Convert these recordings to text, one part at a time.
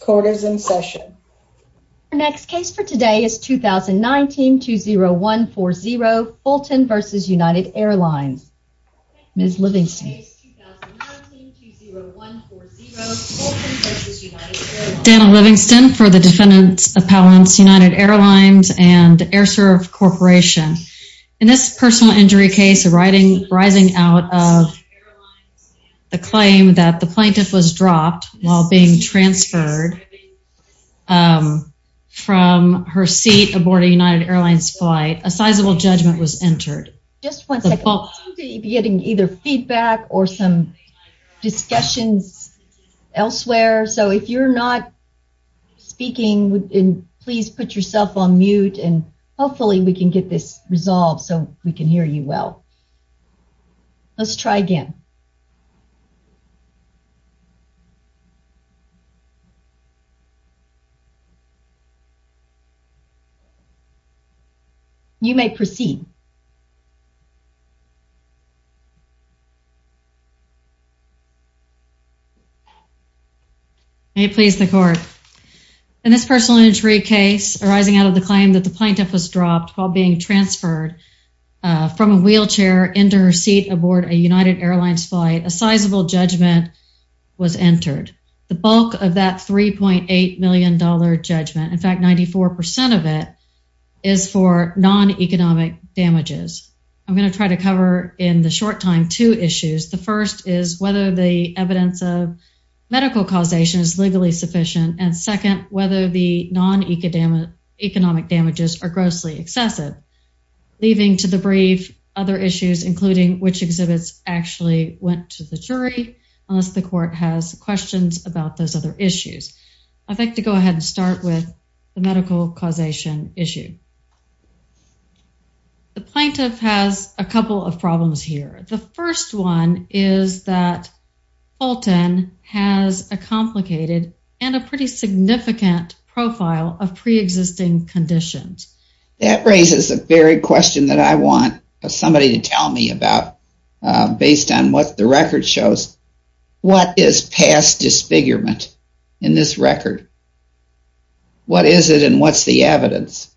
Court is in session. Our next case for today is 2019-20140 Fulton v. United Airlines. Ms. Livingston. Dana Livingston for the defendants appellants United Airlines and AirServe Corporation. In this personal injury case a writing arising out of the claim that the plaintiff was dropped while being transferred from her seat aboard a United Airlines flight, a sizable judgment was entered. Just one second. We're getting either feedback or some discussions elsewhere so if you're not speaking and please put yourself on Let's try again. You may proceed. May it please the court. In this personal injury case arising out of the claim that the plaintiff was dropped while being transferred from a chair into her seat aboard a United Airlines flight, a sizable judgment was entered. The bulk of that $3.8 million judgment, in fact, 94% of it is for non economic damages. I'm going to try to cover in the short time two issues. The first is whether the evidence of medical causation is legally sufficient and second whether the non economic economic damages are grossly excessive. Leaving to the brief other issues including which exhibits actually went to the jury unless the court has questions about those other issues. I'd like to go ahead and start with the medical causation issue. The plaintiff has a couple of problems here. The first one is that Fulton has a complicated and a pretty significant profile of pre existing conditions. That raises the very question that I want somebody to tell me about based on what the record shows. What is past disfigurement in this record? What is it and what's the evidence?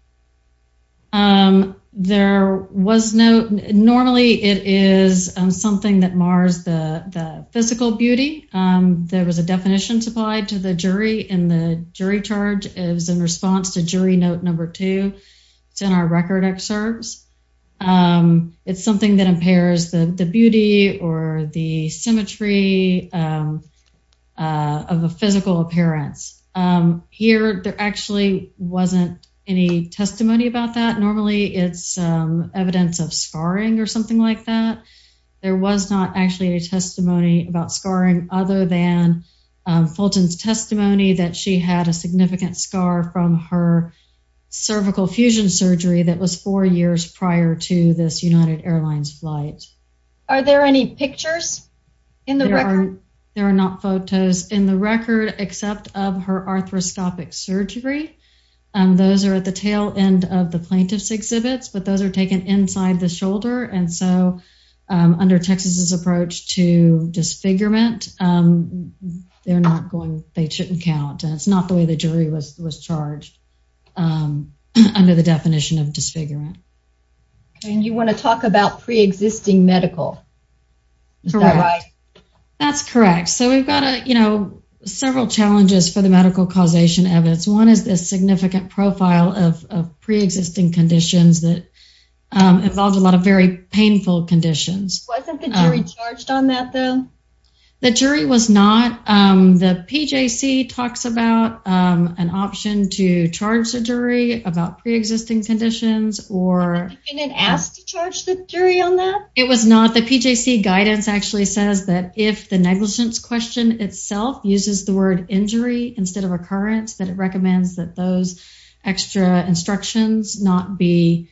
Um, there was no. Normally it is something that mars the physical beauty. Um, there was a definition supplied to the jury in the jury charge is in response to jury note number two. It's in our record excerpts. Um, it's something that impairs the beauty or the symmetry, um, uh, of a physical appearance. Um, here there actually wasn't any testimony about that. Normally it's evidence of scarring or something like that. There was not actually a testimony about scarring other than Fulton's testimony that she had a significant scar from her cervical fusion surgery that was four years prior to this United Airlines flight. Are there any pictures in the record? There are not photos in the record except of her arthroscopic surgery. Um, those air at the tail end of the plaintiff's exhibits. But those are taken inside the shoulder. And so, um, under Texas's approach to disfigurement, um, they're not going, they shouldn't count. And it's not the way the jury was charged, um, under the definition of disfigurement. And you want to talk about preexisting medical. Is that right? That's correct. So we've got a, you know, several challenges for the medical causation evidence. One is this significant profile of preexisting conditions that, um, involves a lot of very painful conditions. Wasn't the jury charged on that, though? The jury was not. Um, the PJC talks about, um, an option to charge the jury about preexisting conditions or been asked to charge the jury on that. It was not. The PJC guidance actually says that if the negligence question itself uses the word injury instead of occurrence, that it recommends that those extra instructions not be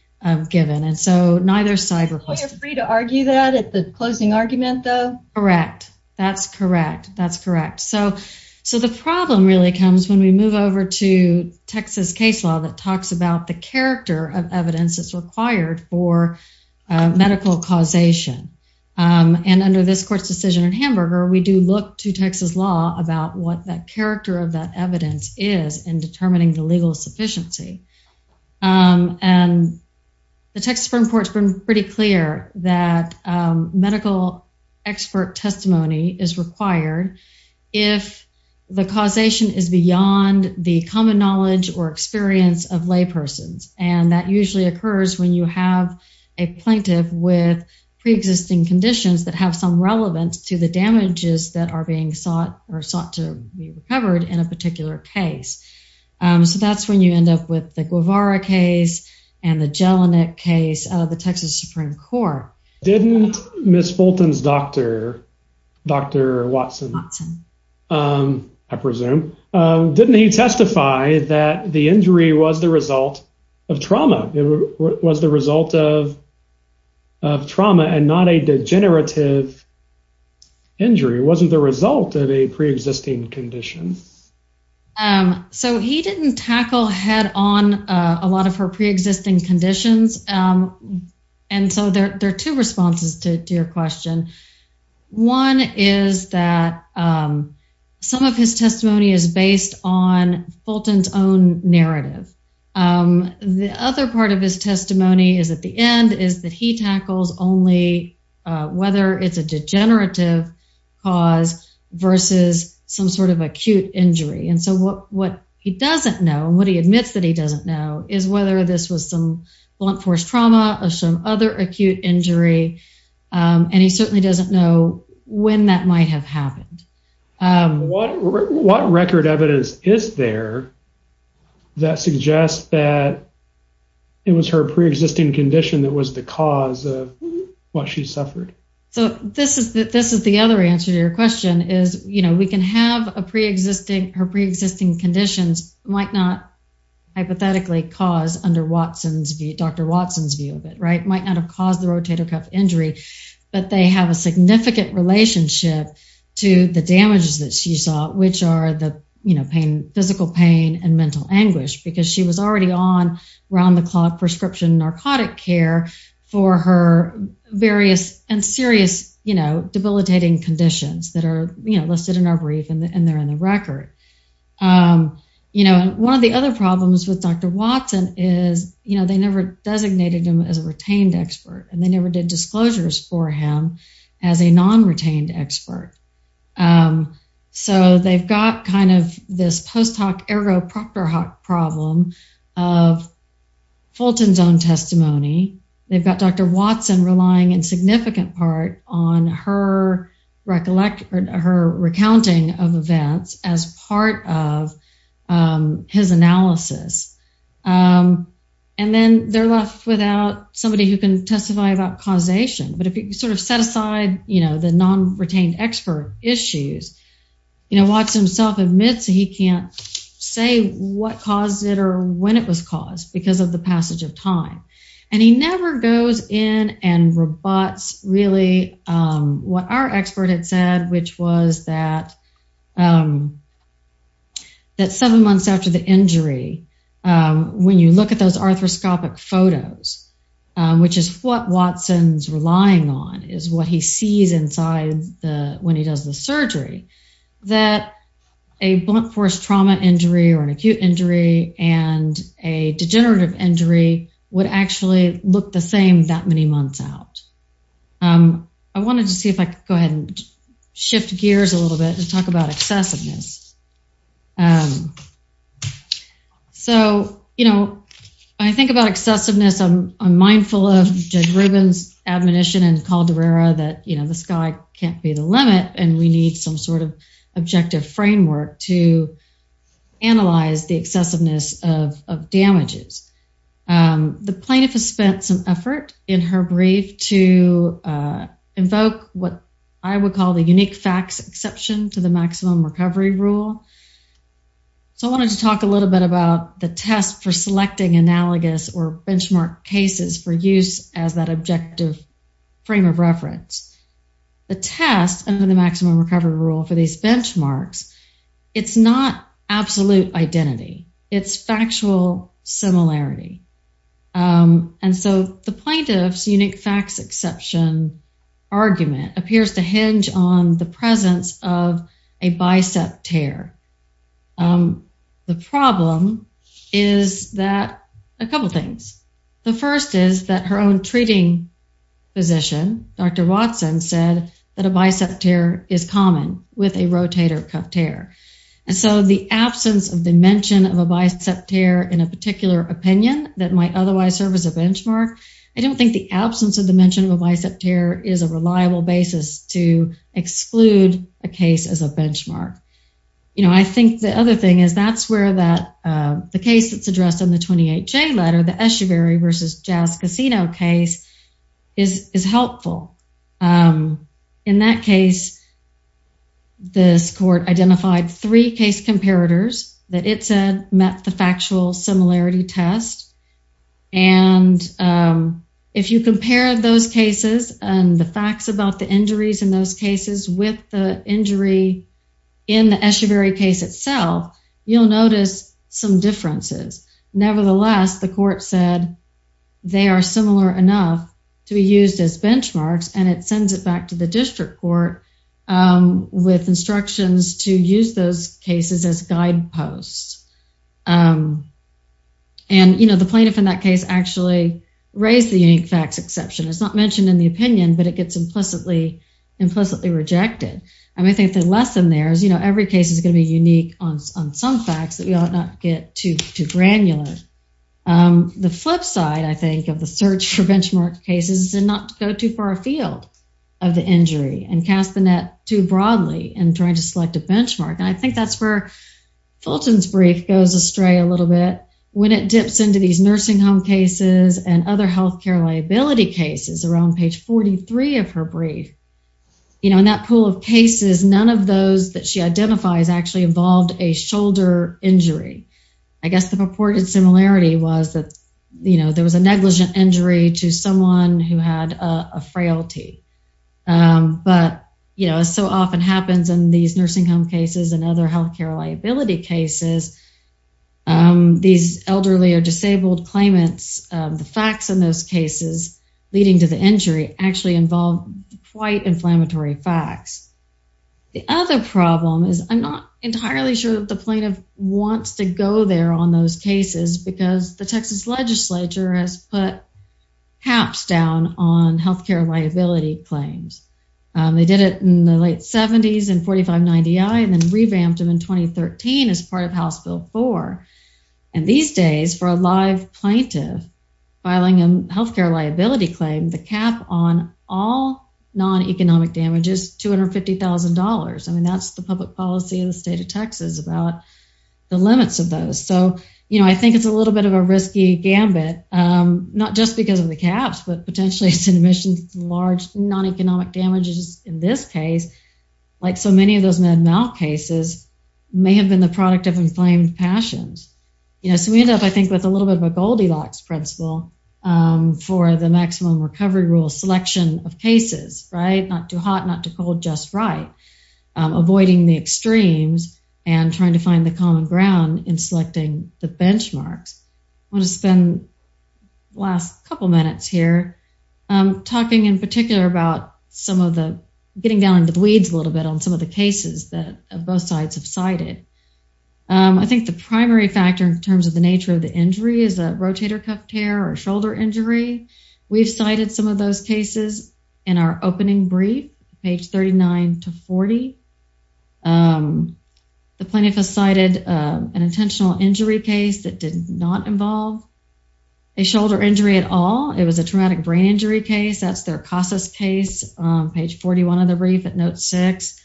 given. And so neither cyber free to argue that at the closing argument, though. Correct. That's correct. That's correct. So So the problem really comes when we move over to Texas case law that talks about the character of evidence is required for medical causation. Um, and under this court's decision in Hamburger, we do look to Texas law about what that Um, and the Texas Supreme Court's been pretty clear that medical expert testimony is required if the causation is beyond the common knowledge or experience of laypersons. And that usually occurs when you have a plaintiff with preexisting conditions that have some relevance to the damages that are being sought or sought to be recovered in a particular case. Um, so that's when you end up with the Guevara case and the Jelinek case of the Texas Supreme Court. Didn't Miss Fulton's doctor, Dr Watson. Um, I presume. Um, didn't he testify that the injury was the result of trauma? It was the result of of trauma and not a degenerative injury wasn't the result of a existing condition. Um, so he didn't tackle head on a lot of her preexisting conditions. Um, and so there are two responses to your question. One is that, um, some of his testimony is based on Fulton's own narrative. Um, the other part of his testimony is at the end is that he tackles only whether it's a some sort of acute injury. And so what what he doesn't know what he admits that he doesn't know is whether this was some blunt force trauma of some other acute injury. Um, and he certainly doesn't know when that might have happened. Um, what record evidence is there that suggests that it was her preexisting condition that was the cause of what she suffered? So this is this is the other answer to your question is, you know, we can have a preexisting her preexisting conditions might not hypothetically cause under Watson's Dr Watson's view of it, right? Might not have caused the rotator cuff injury, but they have a significant relationship to the damages that she saw, which are the pain, physical pain and mental anguish because she was already on round the clock prescription narcotic care for her various and serious, you know, debilitating conditions that are listed in our brief and they're in the record. Um, you know, one of the other problems with Dr Watson is, you know, they never designated him as a retained expert and they never did disclosures for him as a non retained expert. Um, so they've got kind of this post hoc ergo proctor hoc problem of Fulton's own on her recollect her recounting of events as part of his analysis. Um, and then they're left without somebody who can testify about causation. But if you sort of set aside, you know, the non retained expert issues, you know, Watson himself admits he can't say what caused it or when it was caused because of the passage of time. And he never goes in and robots really, um, what our expert had said, which was that, um, that seven months after the injury, when you look at those arthroscopic photos, which is what Watson's relying on is what he sees inside the when he does the surgery, that a blunt force trauma injury or an acute injury and a degenerative injury would actually look the same that many months out. Um, I wanted to see if I could go ahead and shift gears a little bit and talk about excessiveness. Um, so, you know, I think about excessiveness. I'm mindful of Judge Rubin's admonition and called the rare that, you know, the sky can't be the objective framework to analyze the excessiveness of damages. Um, the plaintiff has spent some effort in her brief to, uh, invoke what I would call the unique facts exception to the maximum recovery rule. So I wanted to talk a little bit about the test for selecting analogous or benchmark cases for use as that objective frame of reference. The test under the maximum cover rule for these benchmarks. It's not absolute identity. It's factual similarity. Um, and so the plaintiff's unique facts exception argument appears to hinge on the presence of a bicep tear. Um, the problem is that a couple things. The first is that her own treating physician, Dr Watson, said that a bicep tear is common with a rotator cuff tear. And so the absence of the mention of a bicep tear in a particular opinion that might otherwise serve as a benchmark. I don't think the absence of the mention of a bicep tear is a reliable basis to exclude a case as a benchmark. You know, I think the other thing is, that's where that the case that's addressed in the 28 J letter, the Eschewary versus Jazz Casino case is helpful. Um, in that case, this court identified three case comparators that it said met the factual similarity test. And, um, if you compare those cases and the facts about the injuries in those cases with the injury in the Eschewary case itself, you'll notice some differences. Nevertheless, the court said they are similar enough to be used as benchmarks, and it sends it back to the district court, um, with instructions to use those cases as guideposts. Um, and, you know, the plaintiff in that case actually raised the unique facts exception. It's not mentioned in the opinion, but it gets implicitly implicitly rejected. I mean, I think the lesson there is, you know, every case is going to be unique on some facts that we ought not get too granular. Um, the flip side, I think, of the search for benchmark cases is to not go too far afield of the injury and cast the net too broadly in trying to select a benchmark. And I think that's where Fulton's brief goes astray a little bit when it dips into these nursing home cases and other health care liability cases around page 43 of her brief. You know, in that of cases, none of those that she identifies actually involved a shoulder injury. I guess the purported similarity was that, you know, there was a negligent injury to someone who had a frailty. Um, but, you know, so often happens in these nursing home cases and other health care liability cases. Um, these elderly or disabled claimants, the facts in those cases leading to the injury actually involved quite inflammatory facts. The other problem is I'm not entirely sure that the plaintiff wants to go there on those cases because the Texas Legislature has put caps down on health care liability claims. Um, they did it in the late seventies and 45 90 I and then revamped him in 2013 as part of House Bill four. And these days for a live plaintiff filing a health care liability claim, the cap on all non economic damages $250,000. I mean, that's the public policy in the state of Texas about the limits of those. So, you know, I think it's a little bit of a risky gambit. Um, not just because of the caps, but potentially it's admissions, large, non economic damages in this case, like so many of those mad mouth cases may have been the product of inflamed passions. You know, we end up, I think, with a little bit of a Goldilocks principle for the maximum recovery rule selection of cases, right? Not too hot, not too cold. Just right. Avoiding the extremes and trying to find the common ground in selecting the benchmarks. I want to spend last couple minutes here talking in particular about some of the getting down into the weeds a little bit on some of the cases that both sides have cited. I think the primary factor in nature of the injury is a rotator cuff tear or shoulder injury. We've cited some of those cases in our opening brief page 39 to 40. Um, the plaintiff has cited an intentional injury case that did not involve a shoulder injury at all. It was a traumatic brain injury case. That's their causes case page 41 of the brief at note six.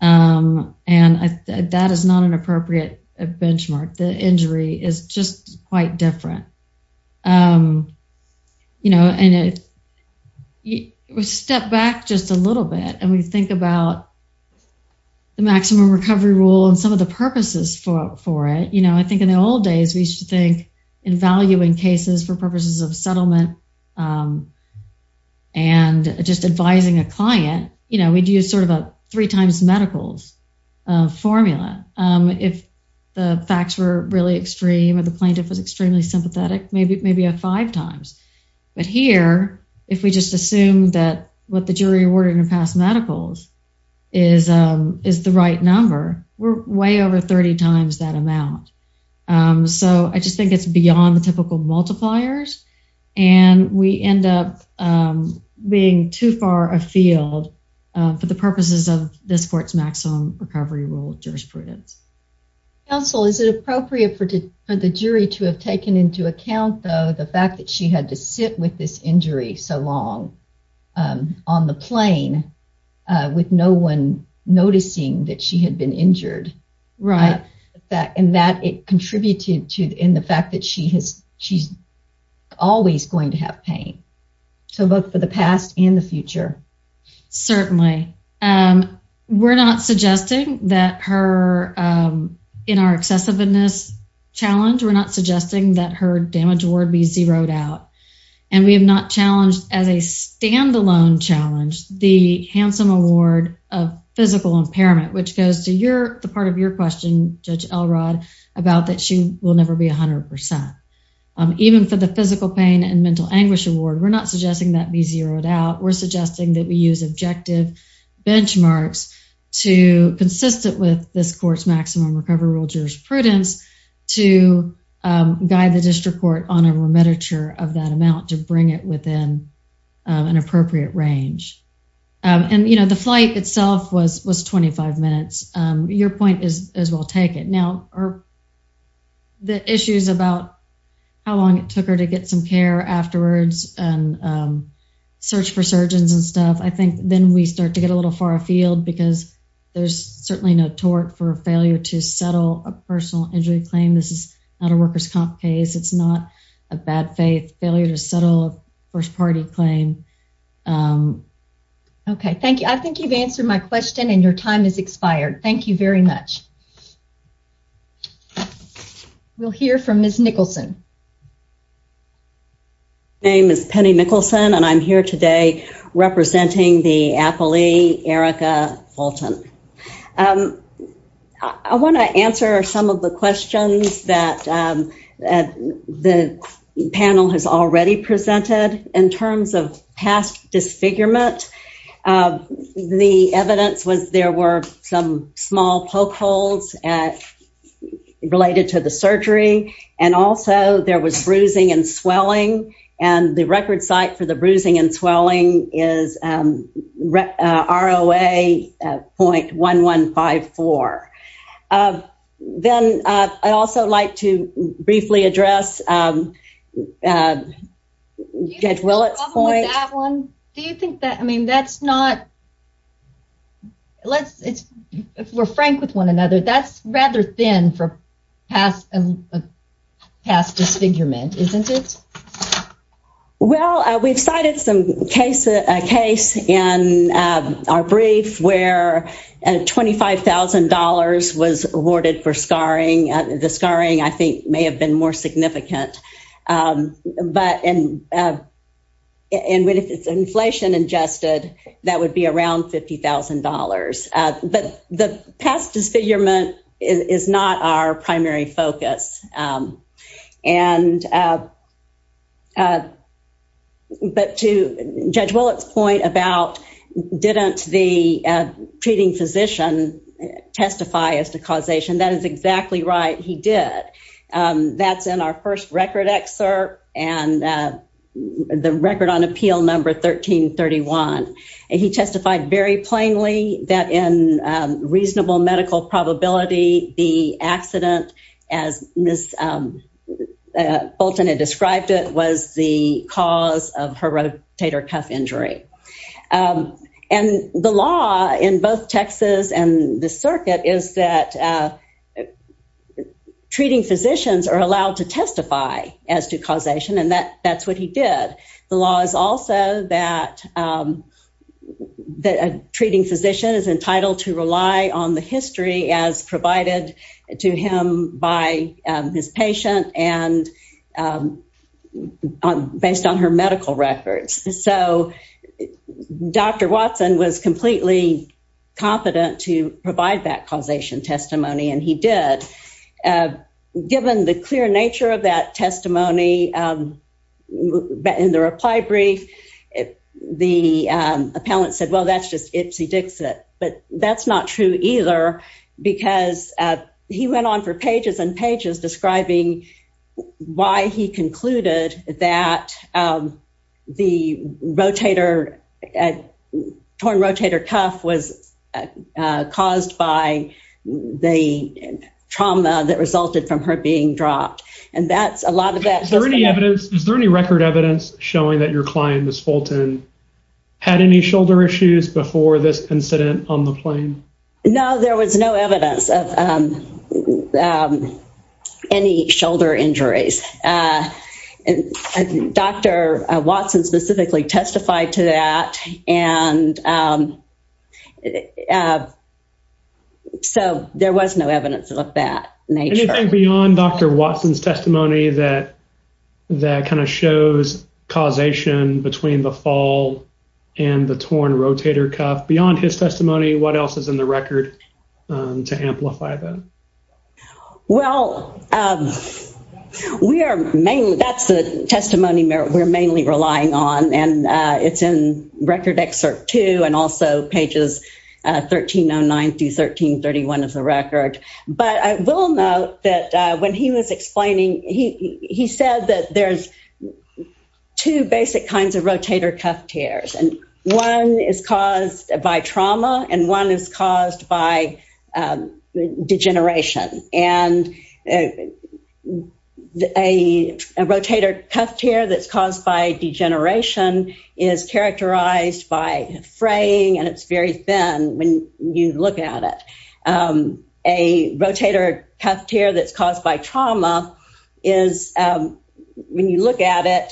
Um, and that is not an appropriate benchmark. The case is just quite different. Um, you know, and it was stepped back just a little bit and we think about the maximum recovery rule and some of the purposes for it. You know, I think in the old days we should think in valuing cases for purposes of settlement, um, and just advising a client, you know, we do sort of a three times medicals formula. Um, if the facts were really extreme or the plaintiff was extremely sympathetic, maybe maybe a five times. But here, if we just assume that what the jury awarded in past medicals is, um, is the right number, we're way over 30 times that amount. Um, so I just think it's beyond the typical multipliers and we end up, um, being too far afield for the purposes of this court's maximum recovery rule jurisprudence. Counsel, is it appropriate for the jury to have taken into account though, the fact that she had to sit with this injury so long, um, on the plane, uh, with no one noticing that she had been injured. Right. That, and that it contributed to in the fact that she has, she's always going to have pain. So both for the past and the future. Certainly. Um, we're not suggesting that her, um, in our excessiveness challenge, we're not suggesting that her damage award be zeroed out. And we have not challenged as a standalone challenge, the handsome award of physical impairment, which goes to your, the part of your question, Judge Elrod about that she will never be a hundred percent. Um, even for the physical pain and mental anguish award, we're not suggesting that be zeroed out. We're suggesting that we use objective benchmarks to consistent with this court's maximum recovery rule jurisprudence to, um, guide the district court on a remittiture of that amount to bring it within, um, an appropriate range. Um, and you know, the flight itself was, was 25 minutes. Um, your point is, is we'll take it now or the issues about how long it took her to get some care afterwards and, um, search for surgeons and stuff. I think then we start to get a little far afield because there's certainly no tort for failure to settle a personal injury claim. This is not a worker's comp case. It's not a bad faith failure to settle a first party claim. Um, okay, thank you. I think you've answered my question and your time is expired. Thank you very much. We'll hear from Miss Nicholson. My name is Penny Nicholson and I'm here today representing the affilee, Erika Fulton. Um, I want to answer some of the questions that, um, the panel has already presented in terms of past disfigurement. Um, the evidence was there were some small poke holes at, related to the surgery and also there was bruising and swelling and the record site for the bruising and swelling is, um, uh, ROA, uh, 0.1154. Uh, then, uh, I also like to briefly address, um, uh, Judge Willits point. Do you think that, I mean, that's not let's, it's, if we're frank with one another, that's rather thin for past, past disfigurement, isn't it? Well, uh, we've cited some case, a case in, um, our brief where, uh, $25,000 was awarded for scarring. Uh, the scarring I think may have been more around $50,000. Uh, but the past disfigurement is not our primary focus. Um, and, uh, uh, but to Judge Willits point about, didn't the, uh, treating physician testify as to causation? That is exactly right. He did. Um, that's in our first record excerpt and, uh, the record on appeal number 1331. And he testified very plainly that in, um, reasonable medical probability, the accident as Ms. Bolton had described it was the cause of her rotator cuff injury. Um, and the law in both Texas and the circuit is that, uh, treating physicians are allowed to testify as to causation. And that that's what he did. The law is also that, um, that treating physician is entitled to rely on the history as provided to him by his patient and, um, based on her medical records. So Dr Watson was completely confident to provide that given the clear nature of that testimony. Um, in the reply brief, the appellant said, well, that's just Ipsy Dixit. But that's not true either because he went on for pages and pages describing why he concluded that, um, the rotator, uh, torn rotator cuff was, uh, caused by the trauma that resulted from her being dropped. And that's a lot of that. Is there any evidence? Is there any record evidence showing that your client, Ms. Bolton, had any shoulder issues before this incident on the plane? No, there was no evidence of, um, um, any shoulder injuries. Uh, Dr Watson specifically testified to that. And, um, uh, so there was no evidence of that nature. Anything beyond Dr. Watson's testimony that, that kind of shows causation between the fall and the torn rotator cuff beyond his testimony? What else is in the record to amplify that? Well, um, we are mainly that's the testimony we're mainly relying on and, uh, it's in record excerpt two and also pages, uh, 1309 through 1331 of the record. But I will note that when he was explaining, he said that there's two basic kinds of rotator cuff tears and one is caused by trauma and one is caused by, um, degeneration. And, uh, a rotator cuff tear that's caused by degeneration is characterized by fraying and it's very thin when you look at it. Um, a rotator cuff tear that's caused by trauma is, um, when you look at it,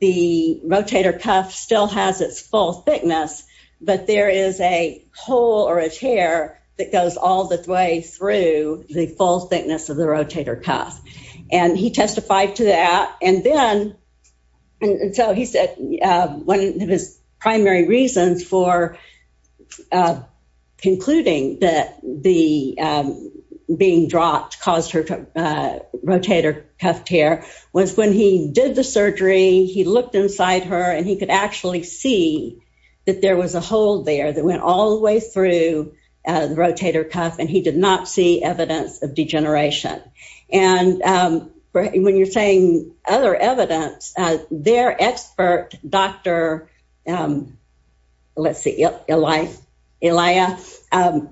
the rotator cuff still has its full thickness, but there is a hole or a tear that goes all the way through the full thickness of And then, and so he said, uh, one of his primary reasons for, uh, concluding that the, um, being dropped caused her, uh, rotator cuff tear was when he did the surgery, he looked inside her and he could actually see that there was a hole there that went all the way through the rotator cuff and he did not see evidence of degeneration. And, um, when you're saying other evidence, uh, their expert, Dr, um, let's see, Elia, um,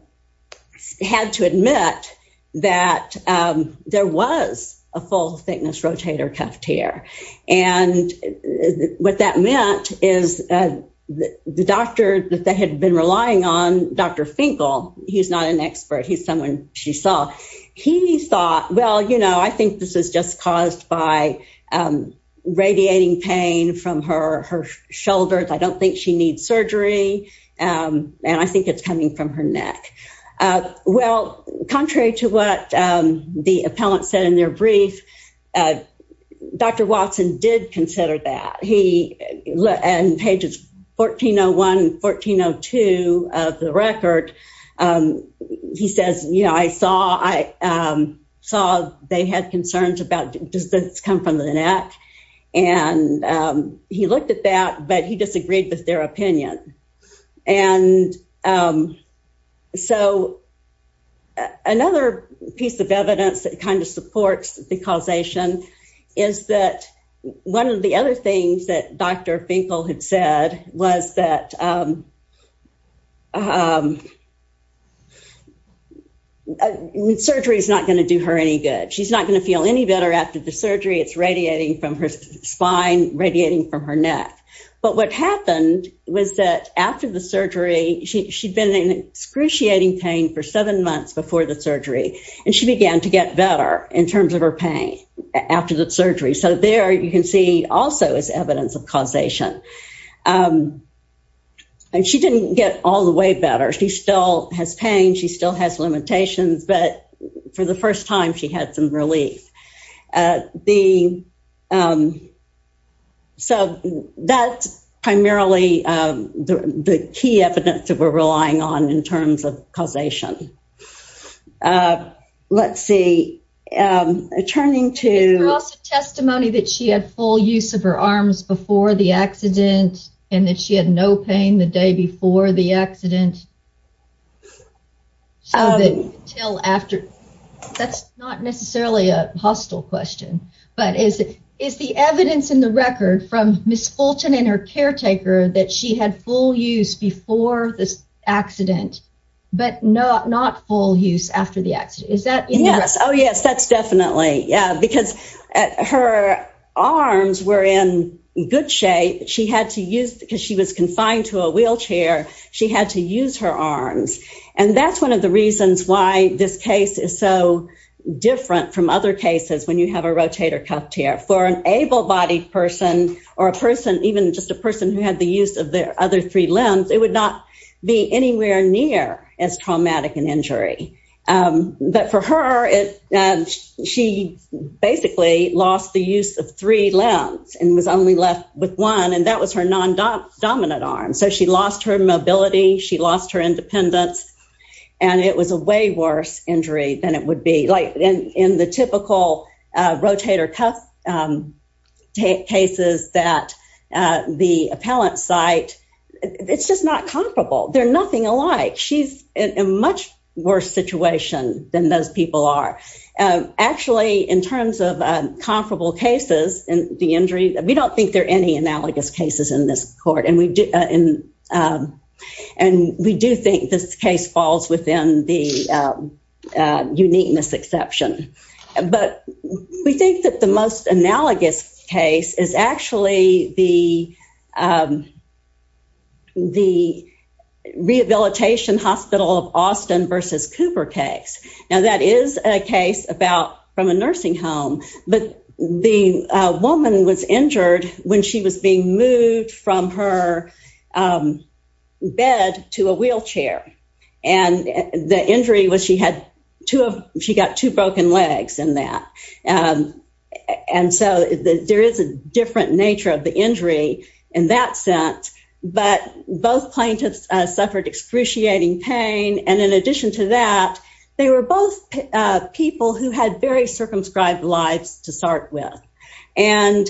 had to admit that, um, there was a full thickness rotator cuff tear. And what that meant is, uh, the doctor that had been relying on Dr Finkel, he's not an expert. He's someone she saw. He thought, well, you know, I think this is just caused by, um, radiating pain from her, her shoulders. I don't think she needs surgery. Um, and I think it's coming from her neck. Uh, well, contrary to what, um, the appellant said in your brief, uh, Dr Watson did consider that he and pages 1401, 1402 of the record. Um, he says, you know, I saw, I, um, saw they had concerns about does this come from the neck? And, um, he looked at that, but he disagreed with their opinion. And, um, so another piece of evidence that kind of supports the causation is that one of the other things that Dr Finkel had said was that, um, um, surgery is not going to do her any good. She's not going to feel any better after the surgery. It's radiating from her spine, radiating from her neck. But what happened was that after the surgery, she, she'd been in excruciating pain for seven months before the surgery. And she began to get better in terms of her pain after the surgery. So there you can see also is evidence of causation. Um, and she didn't get all the way better. She still has pain. She still has limitations, but for the first time she had some relief. Uh, the, um, so that's primarily, um, the, the key evidence that we're relying on in terms of causation. Uh, let's see. Um, turning to testimony that she had full use of her arms before the accident and that she had no pain the day before the till after that's not necessarily a hostile question, but is it is the evidence in the record from Miss Fulton and her caretaker that she had full use before this accident, but not, not full use after the accident. Is that? Yes. Oh, yes, that's definitely. Yeah. Because her arms were in good shape. She had to use because she was confined to a wheelchair. She had to use her arms. And that's one of the reasons why this case is so different from other cases. When you have a rotator cuff tear for an able bodied person or a person, even just a person who had the use of their other three limbs, it would not be anywhere near as traumatic an injury. Um, but for her, it, she basically lost the use of three limbs and was only left with one. And that was her non dominant arm. So she lost her mobility, she lost her independence. And it was a way worse injury than it would be like in the typical rotator cuff cases that the appellant site, it's just not comparable. They're nothing alike. She's a much worse situation than those people are. Actually, in terms of comparable cases and the injury, we don't think there are any analogous cases in this court. And we do in and we do think this case falls within the uniqueness exception. But we think that the most analogous case is actually the the rehabilitation hospital of Austin versus Cooper case. Now that is a case about from a nursing home, but the woman was injured when she was being moved from her bed to a wheelchair. And the injury was she had to have she got two broken legs in that. And so there is a different nature of the injury in that sense. But both plaintiffs suffered excruciating pain. And in addition to that, they were both people who had very And,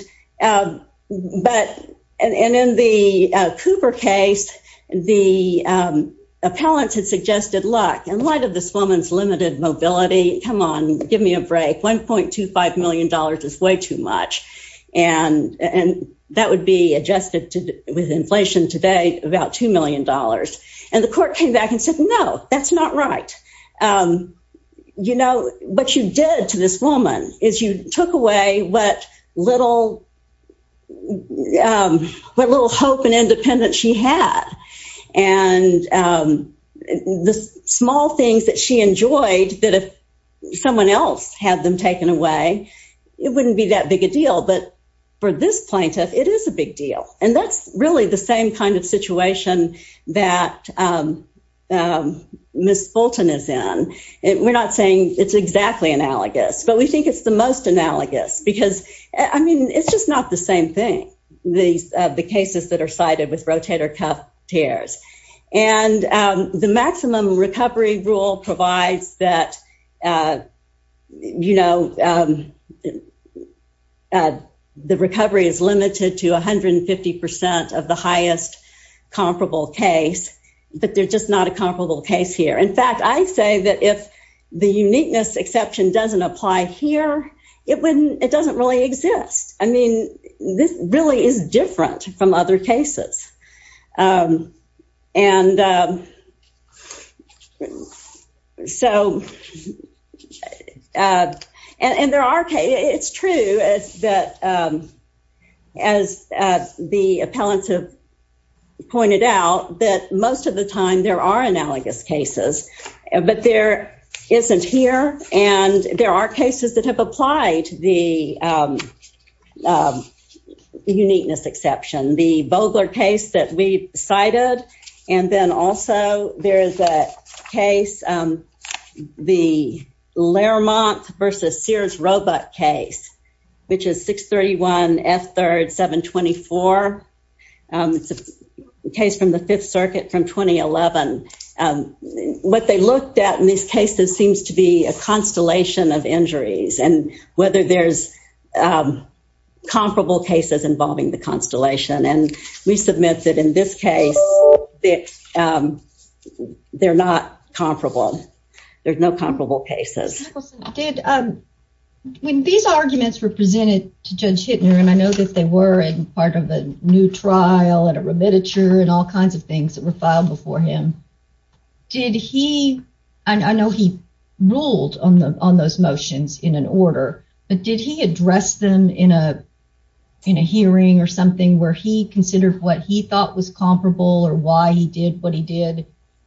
but, and in the Cooper case, the appellants had suggested luck and light of this woman's limited mobility. Come on, give me a break. $1.25 million is way too much. And and that would be adjusted to with inflation today, about $2 million. And the court came back and said, No, that's not right. You know, what you did to this woman is you took away what little what little hope and independence she had. And the small things that she enjoyed that if someone else had them taken away, it wouldn't be that big a deal. But for this plaintiff, it is a big deal. And that's really the same kind of situation that Miss Fulton is in. And we're not saying it's exactly analogous, but we think it's the most analogous because I mean, it's just not the same thing. These the cases that are cited with rotator cuff tears, and the maximum recovery rule provides that, you know, the recovery is limited to 150% of the highest comparable case, but they're just not a comparable case here. In fact, I say that if the uniqueness exception doesn't apply here, it wouldn't, it doesn't really exist. I mean, this really is different from other cases. And so and there are cases, it's true that as the appellants have pointed out that most of the time there are analogous cases, but there isn't here. And there are cases that have applied the uniqueness exception, the Vogler case that we cited. And then also there is a case, the Lermont versus Sears Roebuck case, which is 631 F3rd 724. It's a case from the Fifth Circuit from 2011. What they looked at in these cases seems to be a constellation of injuries and whether there's comparable cases involving the constellation. And we submit that in this case, that they're not comparable. There's no comparable cases. When these arguments were presented to Judge Hittner, and I know that they were in part of a new trial and a remititure and all kinds of things that were filed before him. Did he, I know he ruled on the on those motions in an order, but did he address them in a, in a hearing or something where he thought was comparable or why he did what he did?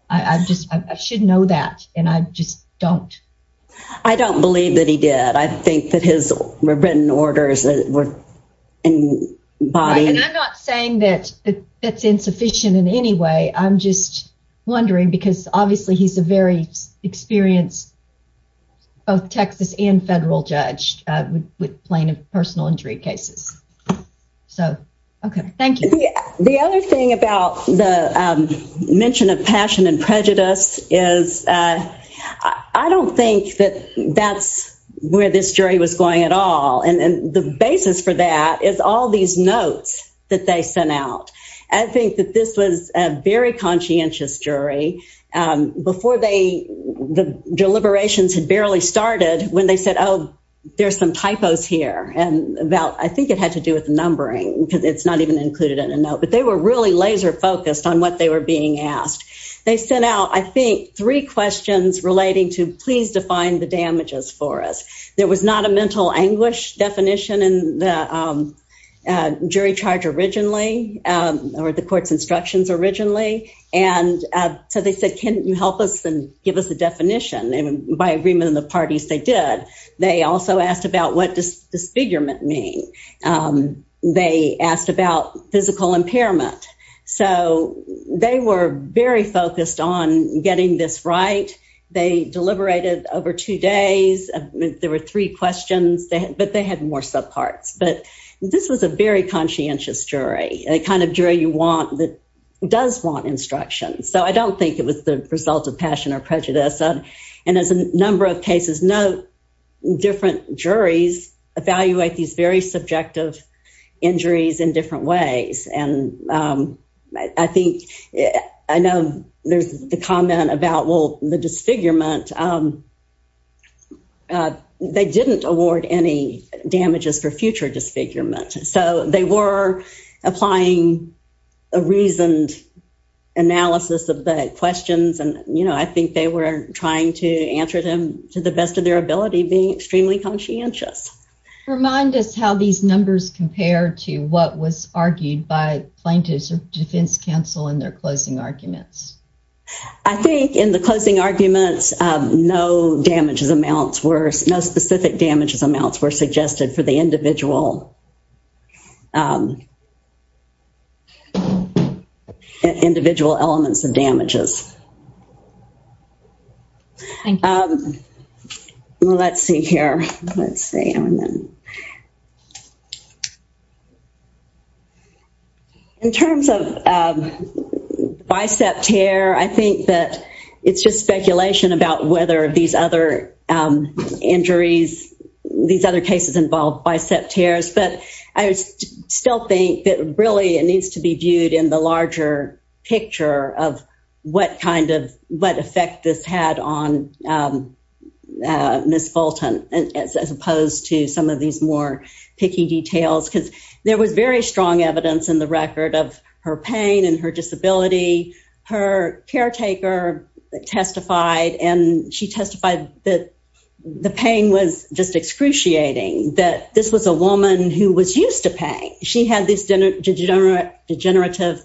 I just, I shouldn't know that. And I just don't. I don't believe that he did. I think that his written orders were in body. And I'm not saying that that's insufficient in any way. I'm just wondering because obviously he's a very experienced, both Texas and New Jersey. The other thing about the mention of passion and prejudice is I don't think that that's where this jury was going at all. And the basis for that is all these notes that they sent out. I think that this was a very conscientious jury before they, the deliberations had barely started when they said, oh, there's some typos here. And about, I think it had to do with they were heavily laser-focused on what they were being asked. They sent out, I think, three questions relating to please define the damages for us. There was not a mental anguish definition in the jury charge originally or the court's instructions originally. And so they said, can you help us and give us a definition? And by agreement in the parties they did. They also asked about what does disfigurement mean? They asked about physical impairment. So they were very focused on getting this right. They deliberated over two days. There were three questions, but they had more subparts. But this was a very conscientious jury, a kind of jury you want that does want instruction. So I don't think it was the result of passion or prejudice. And as a number of cases note, different juries evaluate these very subjective injuries in different ways. And I think, I know there's the comment about, well, the disfigurement, they didn't award any damages for future disfigurement. So they were applying a reasoned analysis of the questions and, you know, I think they were trying to answer them to the best of their ability being extremely conscientious. Remind us how these numbers compare to what was argued by plaintiffs or defense counsel in their closing arguments. I think in the closing arguments no damages amounts were, no specific damages amounts were In terms of bicep tear, I think that it's just speculation about whether these other injuries, these other cases involved bicep tears. But I still think that really it needs to be viewed in the larger picture of what kind of, what as opposed to some of these more picky details because there was very strong evidence in the record of her pain and her disability. Her caretaker testified and she testified that the pain was just excruciating, that this was a woman who was used to pain. She had this degenerative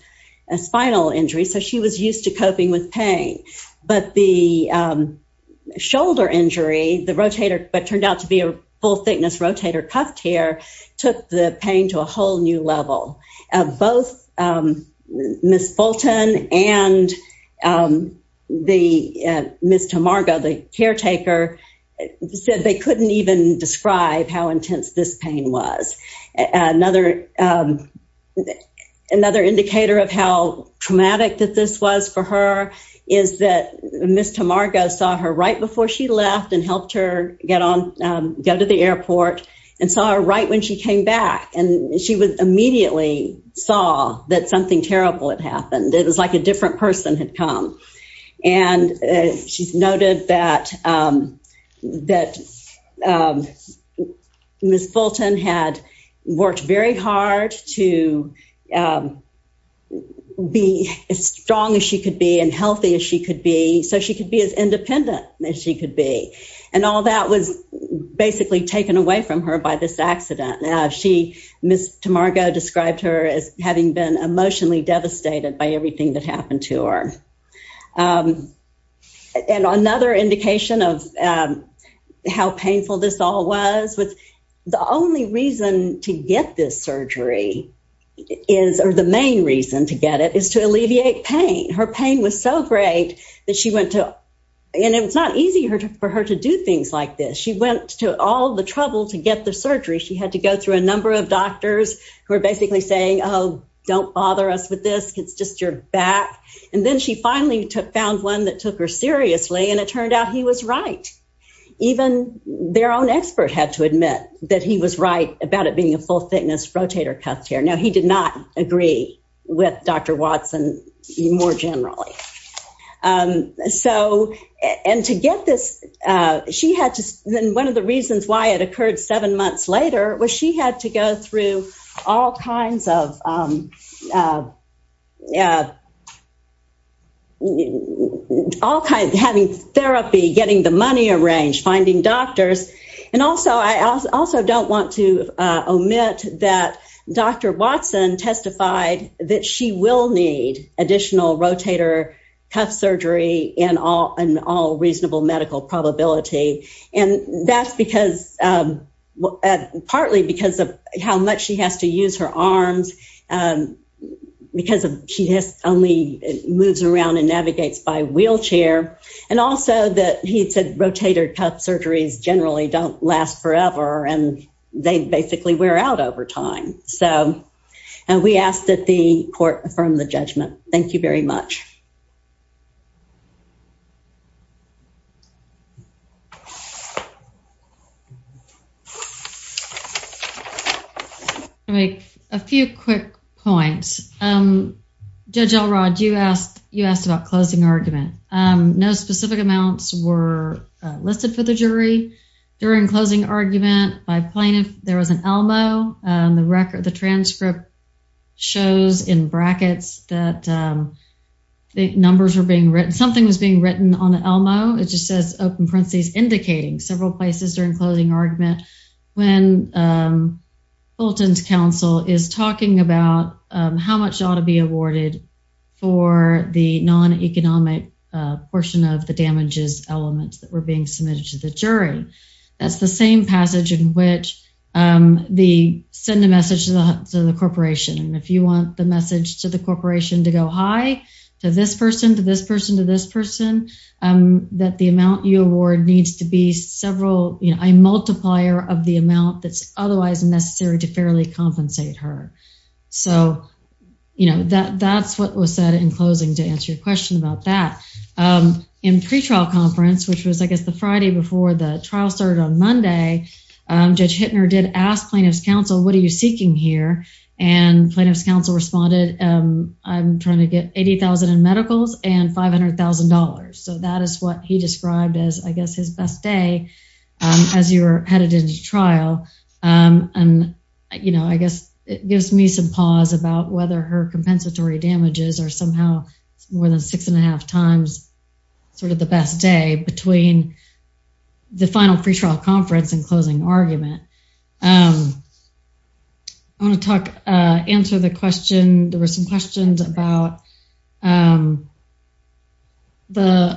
spinal injury. So she was shoulder injury, the rotator, but turned out to be a full thickness rotator cuff tear, took the pain to a whole new level. Both Ms. Fulton and the Ms. Tamargo, the caretaker, said they couldn't even describe how intense this pain was. Another, another indicator of how traumatic that this was for her is that Ms. Tamargo saw her right before she left and helped her get on, go to the airport and saw her right when she came back. And she was immediately saw that something terrible had happened. It was like a different person had come. And she's noted that, that Ms. Fulton had worked very hard to be as strong as she could be and healthy as she could be. So she could be as independent as she could be. And all that was basically taken away from her by this accident. Now she, Ms. Tamargo described her as having been emotionally devastated by everything that happened to her. And another indication of how painful this all was with the only reason to get this surgery is, or the main reason to get it and her pain was so great that she went to, and it's not easy for her to do things like this. She went to all the trouble to get the surgery. She had to go through a number of doctors who are basically saying, oh, don't bother us with this. It's just your back. And then she finally found one that took her seriously and it turned out he was right. Even their own expert had to admit that he was right about it being a full thickness rotator cuff tear. Now he did not agree with Dr. Watson more generally. So, and to get this, she had to, then one of the reasons why it occurred seven months later, was she had to go through all kinds of, all kinds, having therapy, getting the money arranged, finding doctors. And also, I also don't want to omit that Dr. Watson testified that she will need additional rotator cuff surgery in all, in all reasonable medical probability. And that's because, partly because of how much she has to use her arms, because of, she just only moves around and navigates by wheelchair. And also that he said rotator cuff surgeries generally don't last forever and they basically wear out over time. So, and we ask that the court affirm the judgment. Thank you very much. I'll make a few quick points. Judge Elrod, you asked, you asked about closing argument. No specific amounts were listed for the jury during closing argument by plaintiff. There was an ELMO. The record, the transcript shows in brackets that the numbers were being written, something was being written on the ELMO. It just says, open parentheses, indicating several places during closing argument. When Fulton's counsel is talking about how much ought to be submitted to the jury. That's the same passage in which the, send a message to the corporation. And if you want the message to the corporation to go high, to this person, to this person, to this person, that the amount you award needs to be several, you know, a multiplier of the amount that's otherwise necessary to fairly compensate her. So, you know, that, that's what was said in closing to your question about that. In pretrial conference, which was, I guess, the Friday before the trial started on Monday, Judge Hittner did ask plaintiff's counsel, what are you seeking here? And plaintiff's counsel responded, I'm trying to get 80,000 in medicals and $500,000. So that is what he described as, I guess, his best day as you were headed into trial. And, you know, I guess it gives me some pause about whether her compensatory damages are somehow more than six and a half times sort of the best day between the final pretrial conference and closing argument. I want to talk, answer the question. There were some questions about the,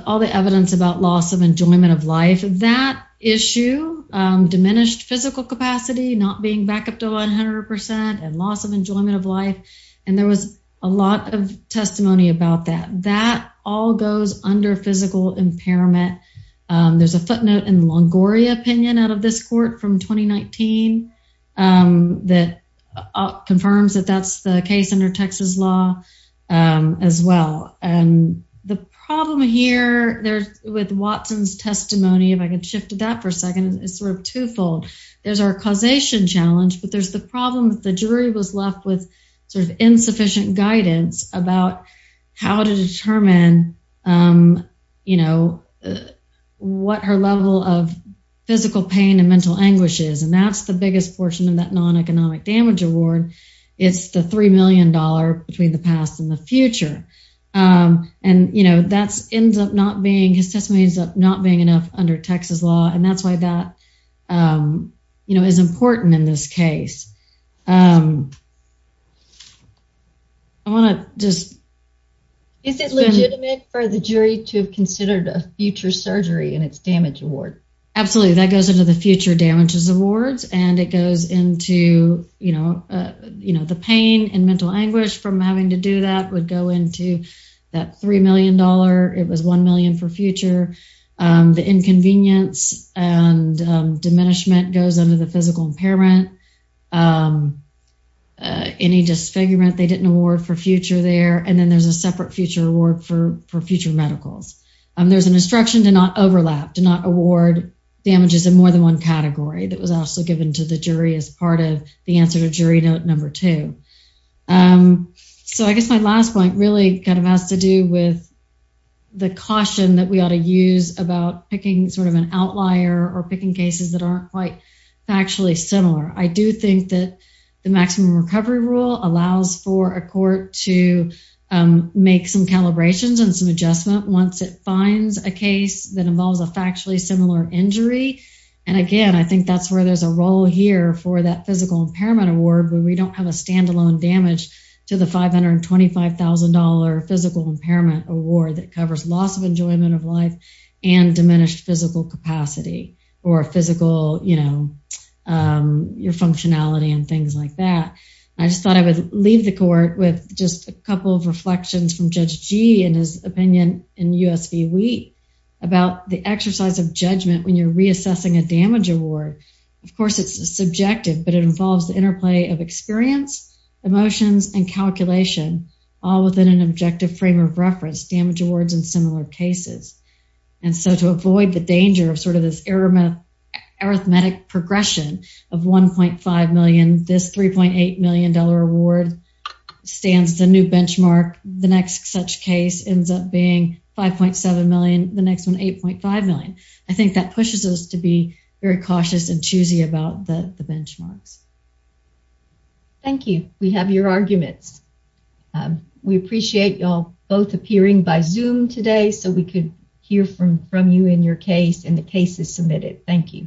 all the evidence about loss of enjoyment of life. That issue, diminished physical capacity, not being back up to 100% and loss of enjoyment of life. And there was a lot of testimony about that. That all goes under physical impairment. There's a footnote in Longoria opinion out of this court from 2019 that confirms that that's the case under Texas law as well. And the problem here there's with Watson's testimony, if I could shift to that for a second, it's twofold. There's our causation challenge, but there's the problem that the jury was left with sort of insufficient guidance about how to determine, you know, what her level of physical pain and mental anguish is. And that's the biggest portion of that non-economic damage award. It's the $3 million between the past and the future. And, you know, that's ends up not being, his testimony ends up not being enough under Texas law. And that's why that, you know, is important in this case. I want to just... Is it legitimate for the jury to have considered a future surgery in its damage award? Absolutely. That goes into the future damages awards and it goes into, you know, you know, the pain and mental anguish from having to do that would go into that $3 million. It was $1 million for future. The inconvenience and diminishment goes under the physical impairment. Any disfigurement they didn't award for future there. And then there's a separate future award for future medicals. There's an instruction to not overlap, to not award damages in more than one category that was also given to the jury as part of the answer jury note number two. So I guess my last point really kind of has to do with the caution that we ought to use about picking sort of an outlier or picking cases that aren't quite factually similar. I do think that the maximum recovery rule allows for a court to make some calibrations and some adjustment once it finds a case that involves a factually similar injury. And again, I just thought I would leave the court with just a couple of reflections from Judge G in his opinion in USP. We about the exercise of judgment when you're reassessing a damage award. Of course, it's subjective, but it involves the of experience, emotions and calculation, all within an objective frame of reference, damage awards and similar cases. And so to avoid the danger of sort of this arithmetic progression of $1.5 million, this $3.8 million award stands the new benchmark. The next such case ends up being $5.7 million, the next one $8.5 million. I think that pushes us to be very cautious and cautious about the benchmarks. Thank you. We have your arguments. We appreciate y'all both appearing by Zoom today so we could hear from you in your case and the cases submitted. Thank you.